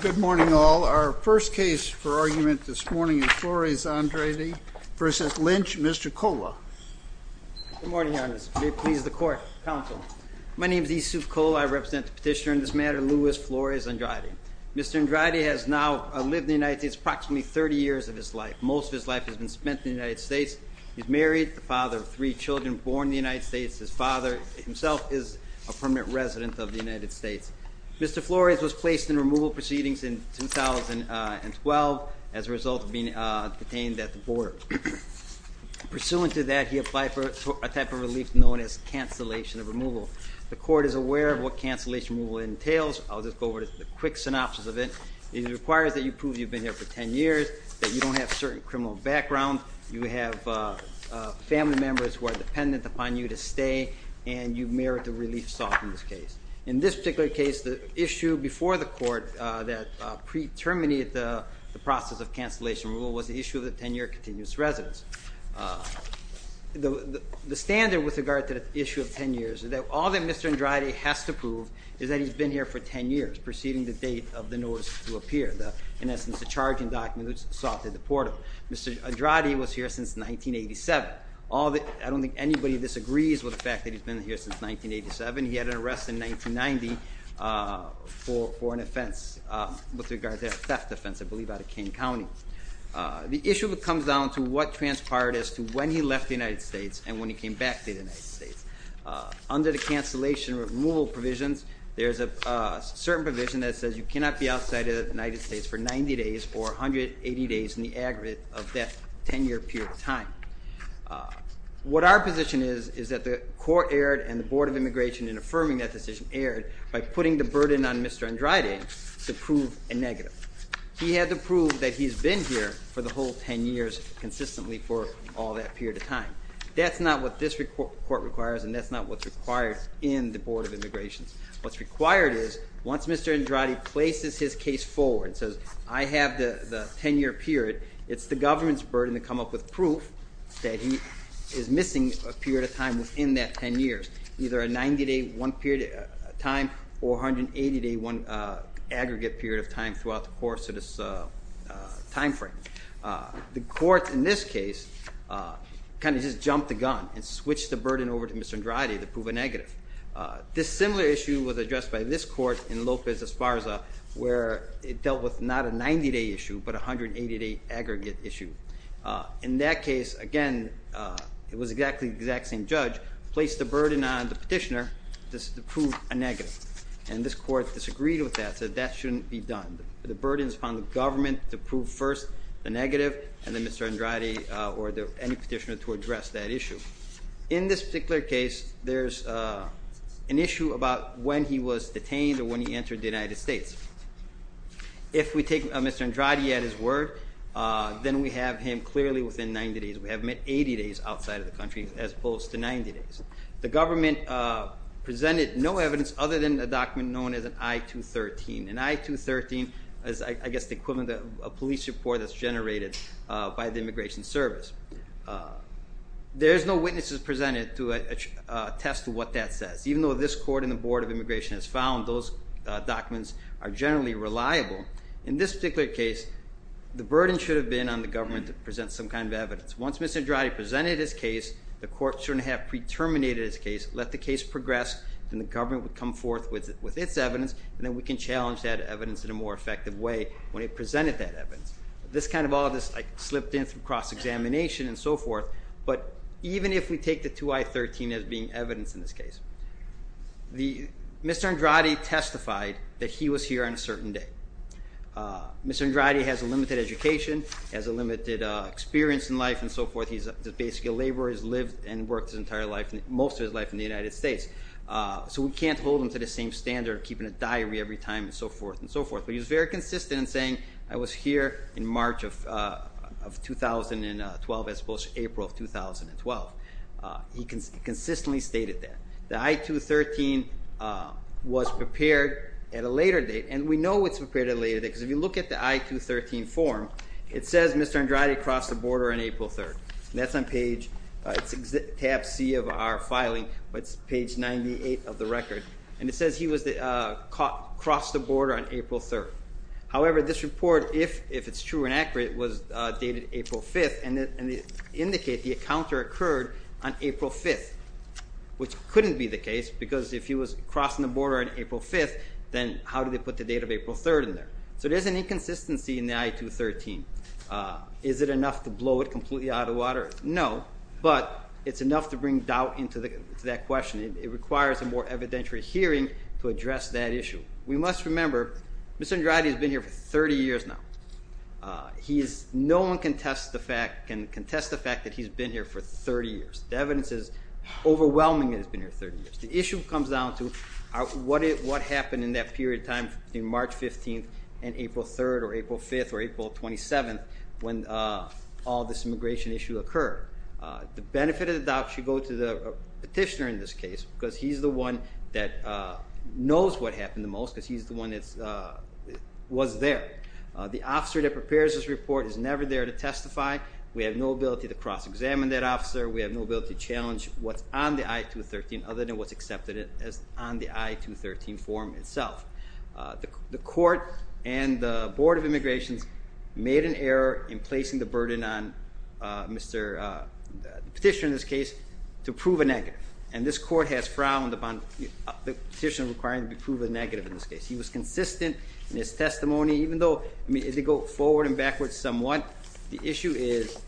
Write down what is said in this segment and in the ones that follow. Good morning all. Our first case for argument this morning is Flores-Andrade v. Lynch. Mr. Kola. Good morning, Your Honor. May it please the court, counsel. My name is Yusuf Kola. I represent the petitioner in this matter, Louis Flores-Andrade. Mr. Andrade has now lived in the United States approximately 30 years of his life. Most of his life has been spent in the United States. He's married, the father of three children, born in the United States. His father himself is a permanent resident of the United States. Mr. Flores was placed in removal proceedings in 2012 as a result of being detained at the border. Pursuant to that, he applied for a type of relief known as cancellation of removal. The court is aware of what cancellation of removal entails. I'll just go over the quick synopsis of it. It requires that you prove you've been here for 10 years, that you don't have certain criminal backgrounds, you have family members who are dependent upon you to stay, and you merit a relief soft in this case. In this particular case, the issue before the court that pre-terminated the process of cancellation of removal was the issue of the 10-year continuous residence. The standard with regard to the issue of 10 years is that all that Mr. Andrade has to prove is that he's been here for 10 years preceding the date of the notice to appear. In essence, the charging documents sought to deport him. Mr. Andrade was here since 1987. I don't think anybody disagrees with the fact that he's been here since 1987. He had an arrest in 1990 for an offense with regard to a theft offense, I believe, out of Kane County. The issue comes down to what transpired as to when he left the United States and when he came back to the United States. Under the cancellation of removal provisions, there's a certain provision that says you cannot be outside of the United States for 90 days or 180 days in the aggregate of that 10-year period of time. What our position is is that the court erred and the Board of Immigration in affirming that decision erred by putting the burden on Mr. Andrade to prove a negative. He had to prove that he's been here for the whole 10 years consistently for all that period of time. That's not what this court requires and that's not what's required in the Board of Immigration. What's required is once Mr. Andrade places his case forward and says, I have the 10-year period, it's the government's burden to come up with proof that he is missing a period of time within that 10 years, either a 90-day one period of time or 180-day one aggregate period of time throughout the course of this time frame. The court in this case kind of just jumped the gun and switched the burden over to Mr. Andrade to prove a negative. This similar issue was addressed by this court in Lopez Esparza where it dealt with not a 90-day issue but a 180-day aggregate issue. In that case, again, it was exactly the exact same judge placed the burden on the petitioner to prove a negative. And this court disagreed with that, said that shouldn't be done. The burden is upon the government to prove first the negative and then Mr. Andrade or any petitioner to address that issue. In this particular case, there's an issue about when he was detained or when he entered the United States. If we take Mr. Andrade at his word, then we have him clearly within 90 days. We have him at 80 days outside of the country as opposed to 90 days. The government presented no evidence other than a document known as an I-213. An I-213 is, I guess, the equivalent of a police report that's generated by the Immigration Service. There's no witnesses presented to attest to what that says. Even though this court and the Board of Immigration has found those documents are generally reliable. In this particular case, the burden should have been on the government to present some kind of evidence. Once Mr. Andrade presented his case, the court shouldn't have pre-terminated his case, let the case progress, then the government would come forth with its evidence and then we can challenge that evidence in a more effective way when it presented that evidence. This kind of all just slipped in through cross-examination and so forth. But even if we take the II-I-13 as being evidence in this case, Mr. Andrade testified that he was here on a certain day. Mr. Andrade has a limited education, has a limited experience in life and so forth. He's basically a laborer. He's lived and worked most of his life in the United States. So we can't hold him to the same standard of keeping a diary every time and so forth and so forth. But he was very consistent in saying, I was here in March of 2012 as opposed to April of 2012. He consistently stated that. The I-II-13 was prepared at a later date and we know it's prepared at a later date because if you look at the I-II-13 form, it says Mr. Andrade crossed the border on April 3rd. That's on page, it's tab C of our filing, but it's page 98 of the record. And it says he crossed the border on April 3rd. However, this report, if it's true and accurate, was dated April 5th and it indicates the encounter occurred on April 5th, which couldn't be the case because if he was crossing the border on April 5th, then how did they put the date of April 3rd in there? So there's an inconsistency in the I-II-13. Is it enough to blow it completely out of the water? No, but it's enough to bring doubt into that question. It requires a more evidentiary hearing to address that issue. We must remember Mr. Andrade has been here for 30 years now. No one can contest the fact that he's been here for 30 years. The evidence is overwhelming that he's been here 30 years. The issue comes down to what happened in that period of time between March 15th and April 3rd or April 5th or April 27th when all this immigration issue occurred. The benefit of the doubt should go to the petitioner in this case because he's the one that knows what happened the most because he's the one that was there. The officer that prepares this report is never there to testify. We have no ability to challenge what's on the I-II-13 other than what's accepted on the I-II-13 form itself. The court and the Board of Immigrations made an error in placing the burden on the petitioner in this case to prove a negative, and this court has frowned upon the petitioner requiring to prove a negative in this case. He was consistent in his testimony, even though they go forward and backwards somewhat. The issue is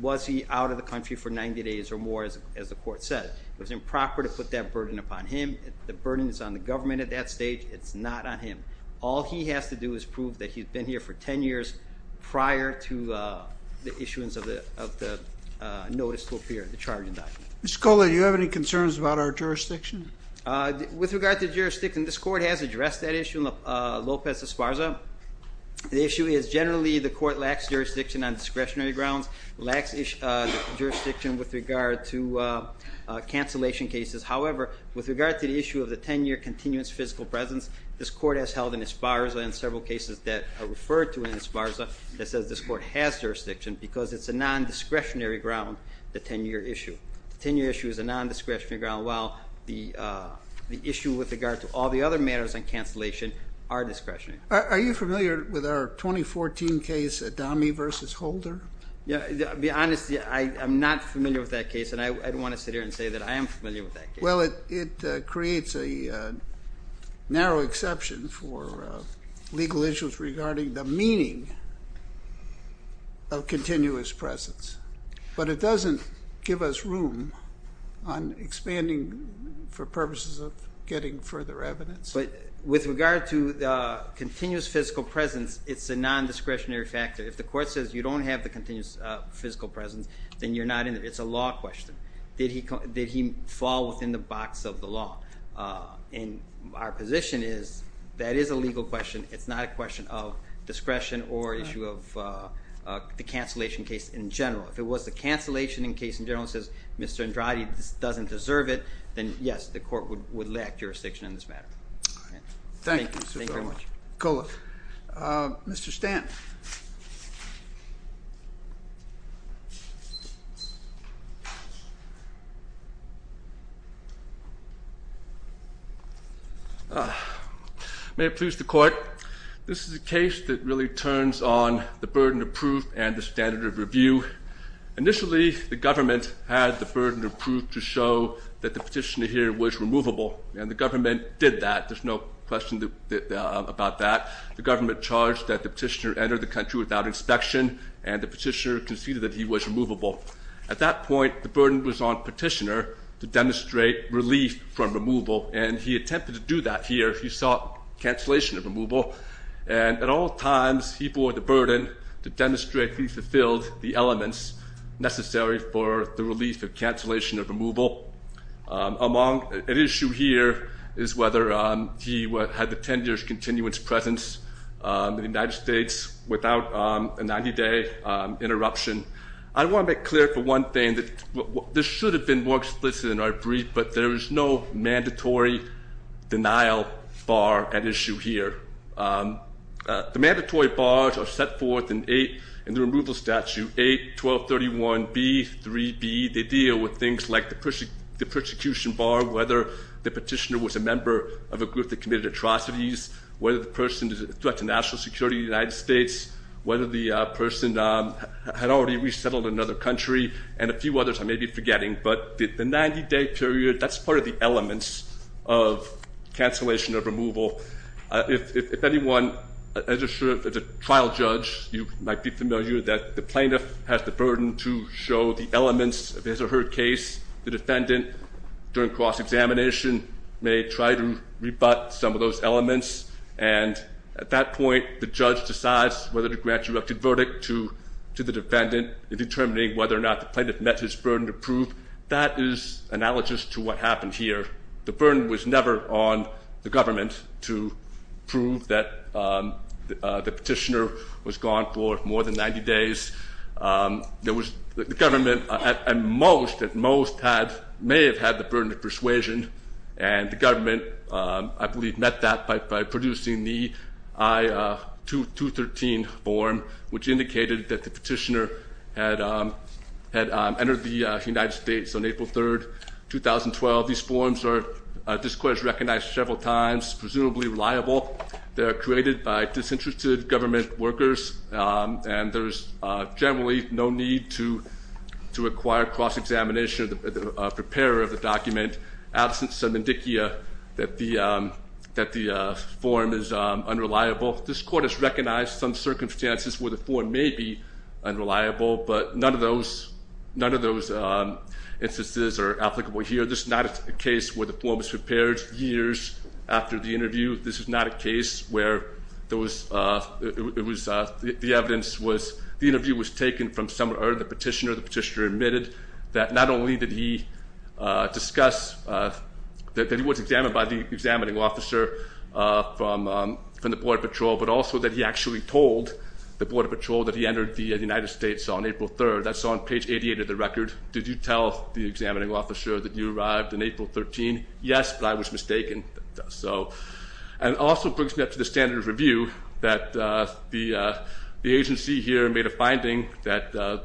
was he out of the country for 90 days or more, as the court said. It was improper to put that burden upon him. The burden is on the government at that stage. It's not on him. All he has to do is prove that he's been here for 10 years prior to the issuance of the notice to appear, the charging document. Mr. Kola, do you have any concerns about our jurisdiction? With regard to jurisdiction, this court has addressed that issue in Lopez Esparza. The issue is generally the court lacks jurisdiction on discretionary grounds, lacks jurisdiction with regard to cancellation cases. However, with regard to the issue of the 10-year continuous physical presence, this court has held in Esparza and several cases that are referred to in Esparza that says this court has jurisdiction because it's a non-discretionary ground, the 10-year issue. The 10-year issue is a non-discretionary ground, while the issue with regard to all the other matters on cancellation are discretionary. Are you familiar with our 2014 case, Adami v. Holder? To be honest, I'm not familiar with that case, and I want to sit here and say that I am familiar with that case. Well, it creates a narrow exception for legal issues regarding the meaning of continuous presence, but it doesn't give us room on expanding for purposes of getting further evidence. But with regard to continuous physical presence, it's a non-discretionary factor. If the court says you don't have the continuous physical presence, then you're not in there. It's a law question. Did he fall within the box of the law? And our position is that is a legal question. It's not a question of discretion or issue of the cancellation case in general. If it was the cancellation in case in general and says Mr. Andrade doesn't deserve it, then, yes, the court would lack jurisdiction in this matter. Thank you. Thank you, Mr. Kohler. Mr. Stanton. May it please the court. This is a case that really turns on the burden of proof and the standard of review. Initially, the government had the burden of proof to show that the petitioner here was removable, and the government did that. There's no question about that. The government charged that the petitioner entered the country without inspection, and the petitioner conceded that he was removable. At that point, the burden was on the petitioner to demonstrate relief from removal, and he attempted to do that here. He sought cancellation of removal, and at all times he bore the burden to demonstrate he fulfilled the elements necessary for the relief of cancellation of removal. An issue here is whether he had the 10-year continuance presence in the United States without a 90-day interruption. I want to make clear for one thing that this should have been more explicit in our brief, but there is no mandatory denial bar at issue here. The mandatory bars are set forth in the removal statute 8-1231B-3B. They deal with things like the persecution bar, whether the petitioner was a member of a group that committed atrocities, whether the person is a threat to national security in the United States, whether the person had already resettled in another country, and a few others I may be forgetting. But the 90-day period, that's part of the elements of cancellation of removal. If anyone, as a trial judge, you might be familiar that the plaintiff has the burden to show the elements of his or her case. The defendant, during cross-examination, may try to rebut some of those elements, and at that point the judge decides whether to grant erupted verdict to the defendant in determining whether or not the plaintiff met his burden of proof. That is analogous to what happened here. The burden was never on the government to prove that the petitioner was gone for more than 90 days. The government, at most, may have had the burden of persuasion, and the government, I believe, met that by producing the I-213 form, which indicated that the petitioner had entered the United States on April 3rd, 2012. This court has recognized several times it's presumably reliable. They are created by disinterested government workers, and there's generally no need to require cross-examination of the preparer of the document, absent some indicia that the form is unreliable. This court has recognized some circumstances where the form may be unreliable, but none of those instances are applicable here. This is not a case where the form was prepared years after the interview. This is not a case where the evidence was the interview was taken from somewhere, or the petitioner admitted that not only did he discuss that he was examined by the examining officer from the Border Patrol, but also that he actually told the Border Patrol that he entered the United States on April 3rd. That's on page 88 of the record. Did you tell the examining officer that you arrived on April 13th? Yes, but I was mistaken. And it also brings me up to the standards review that the agency here made a finding that the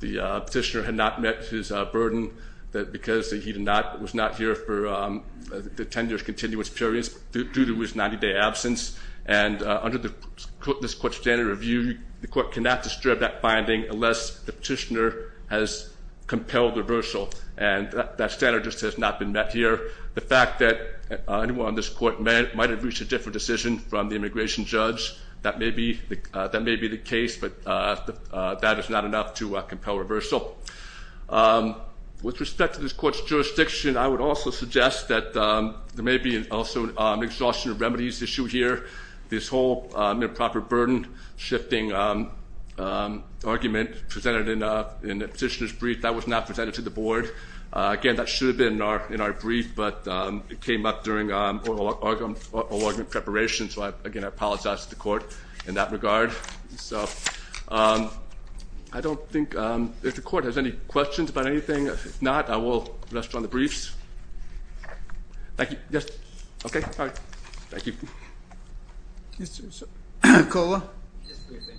petitioner had not met his burden because he was not here for the 10-year continuance periods due to his 90-day absence. And under this court's standard review, the court cannot disturb that finding unless the petitioner has compelled reversal. And that standard just has not been met here. The fact that anyone on this court might have reached a different decision from the immigration judge, that may be the case, but that is not enough to compel reversal. With respect to this court's jurisdiction, I would also suggest that there may be also an exhaustion of remedies issue here. This whole improper burden shifting argument presented in the petitioner's brief, that was not presented to the board. Again, that should have been in our brief, but it came up during oral argument preparation, so again, I apologize to the court in that regard. So I don't think the court has any questions about anything. If not, I will rest on the briefs. Thank you. Yes. Okay. All right. Thank you. Yes, sir. Cola? Just a briefing.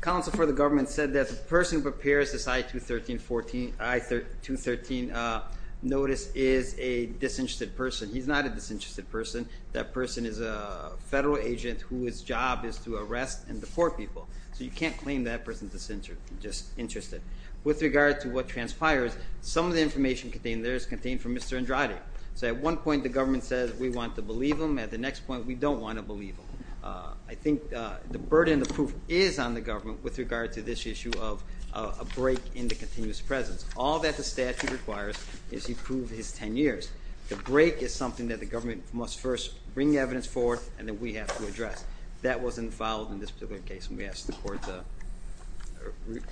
Counsel for the government said that the person who prepares this I-213 notice is a disinterested person. He's not a disinterested person. That person is a federal agent whose job is to arrest and deport people. So you can't claim that person's disinterested. With regard to what transpires, some of the information contained there is contained for Mr. Andrade. So at one point, the government says we want to believe him. At the next point, we don't want to believe him. I think the burden of proof is on the government with regard to this issue of a break in the continuous presence. All that the statute requires is he prove his 10 years. The break is something that the government must first bring evidence forth and then we have to address. That was involved in this particular case, and we ask the court to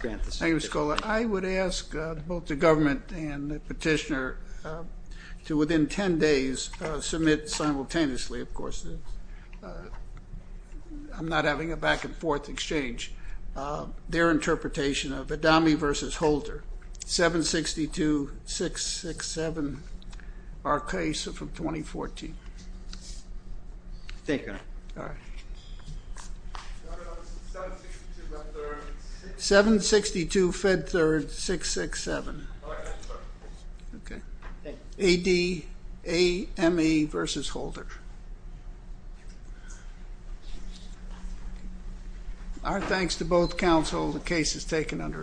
grant this. Thank you, Mr. Cola. I would ask both the government and the petitioner to, within 10 days, submit simultaneously, of course. I'm not having a back-and-forth exchange. Their interpretation of Adami v. Holder, 762-667, our case from 2014. Thank you, Your Honor. 762-Fed-3rd-667. ADAME v. Holder. Our thanks to both counsel. The case is taken under advisement.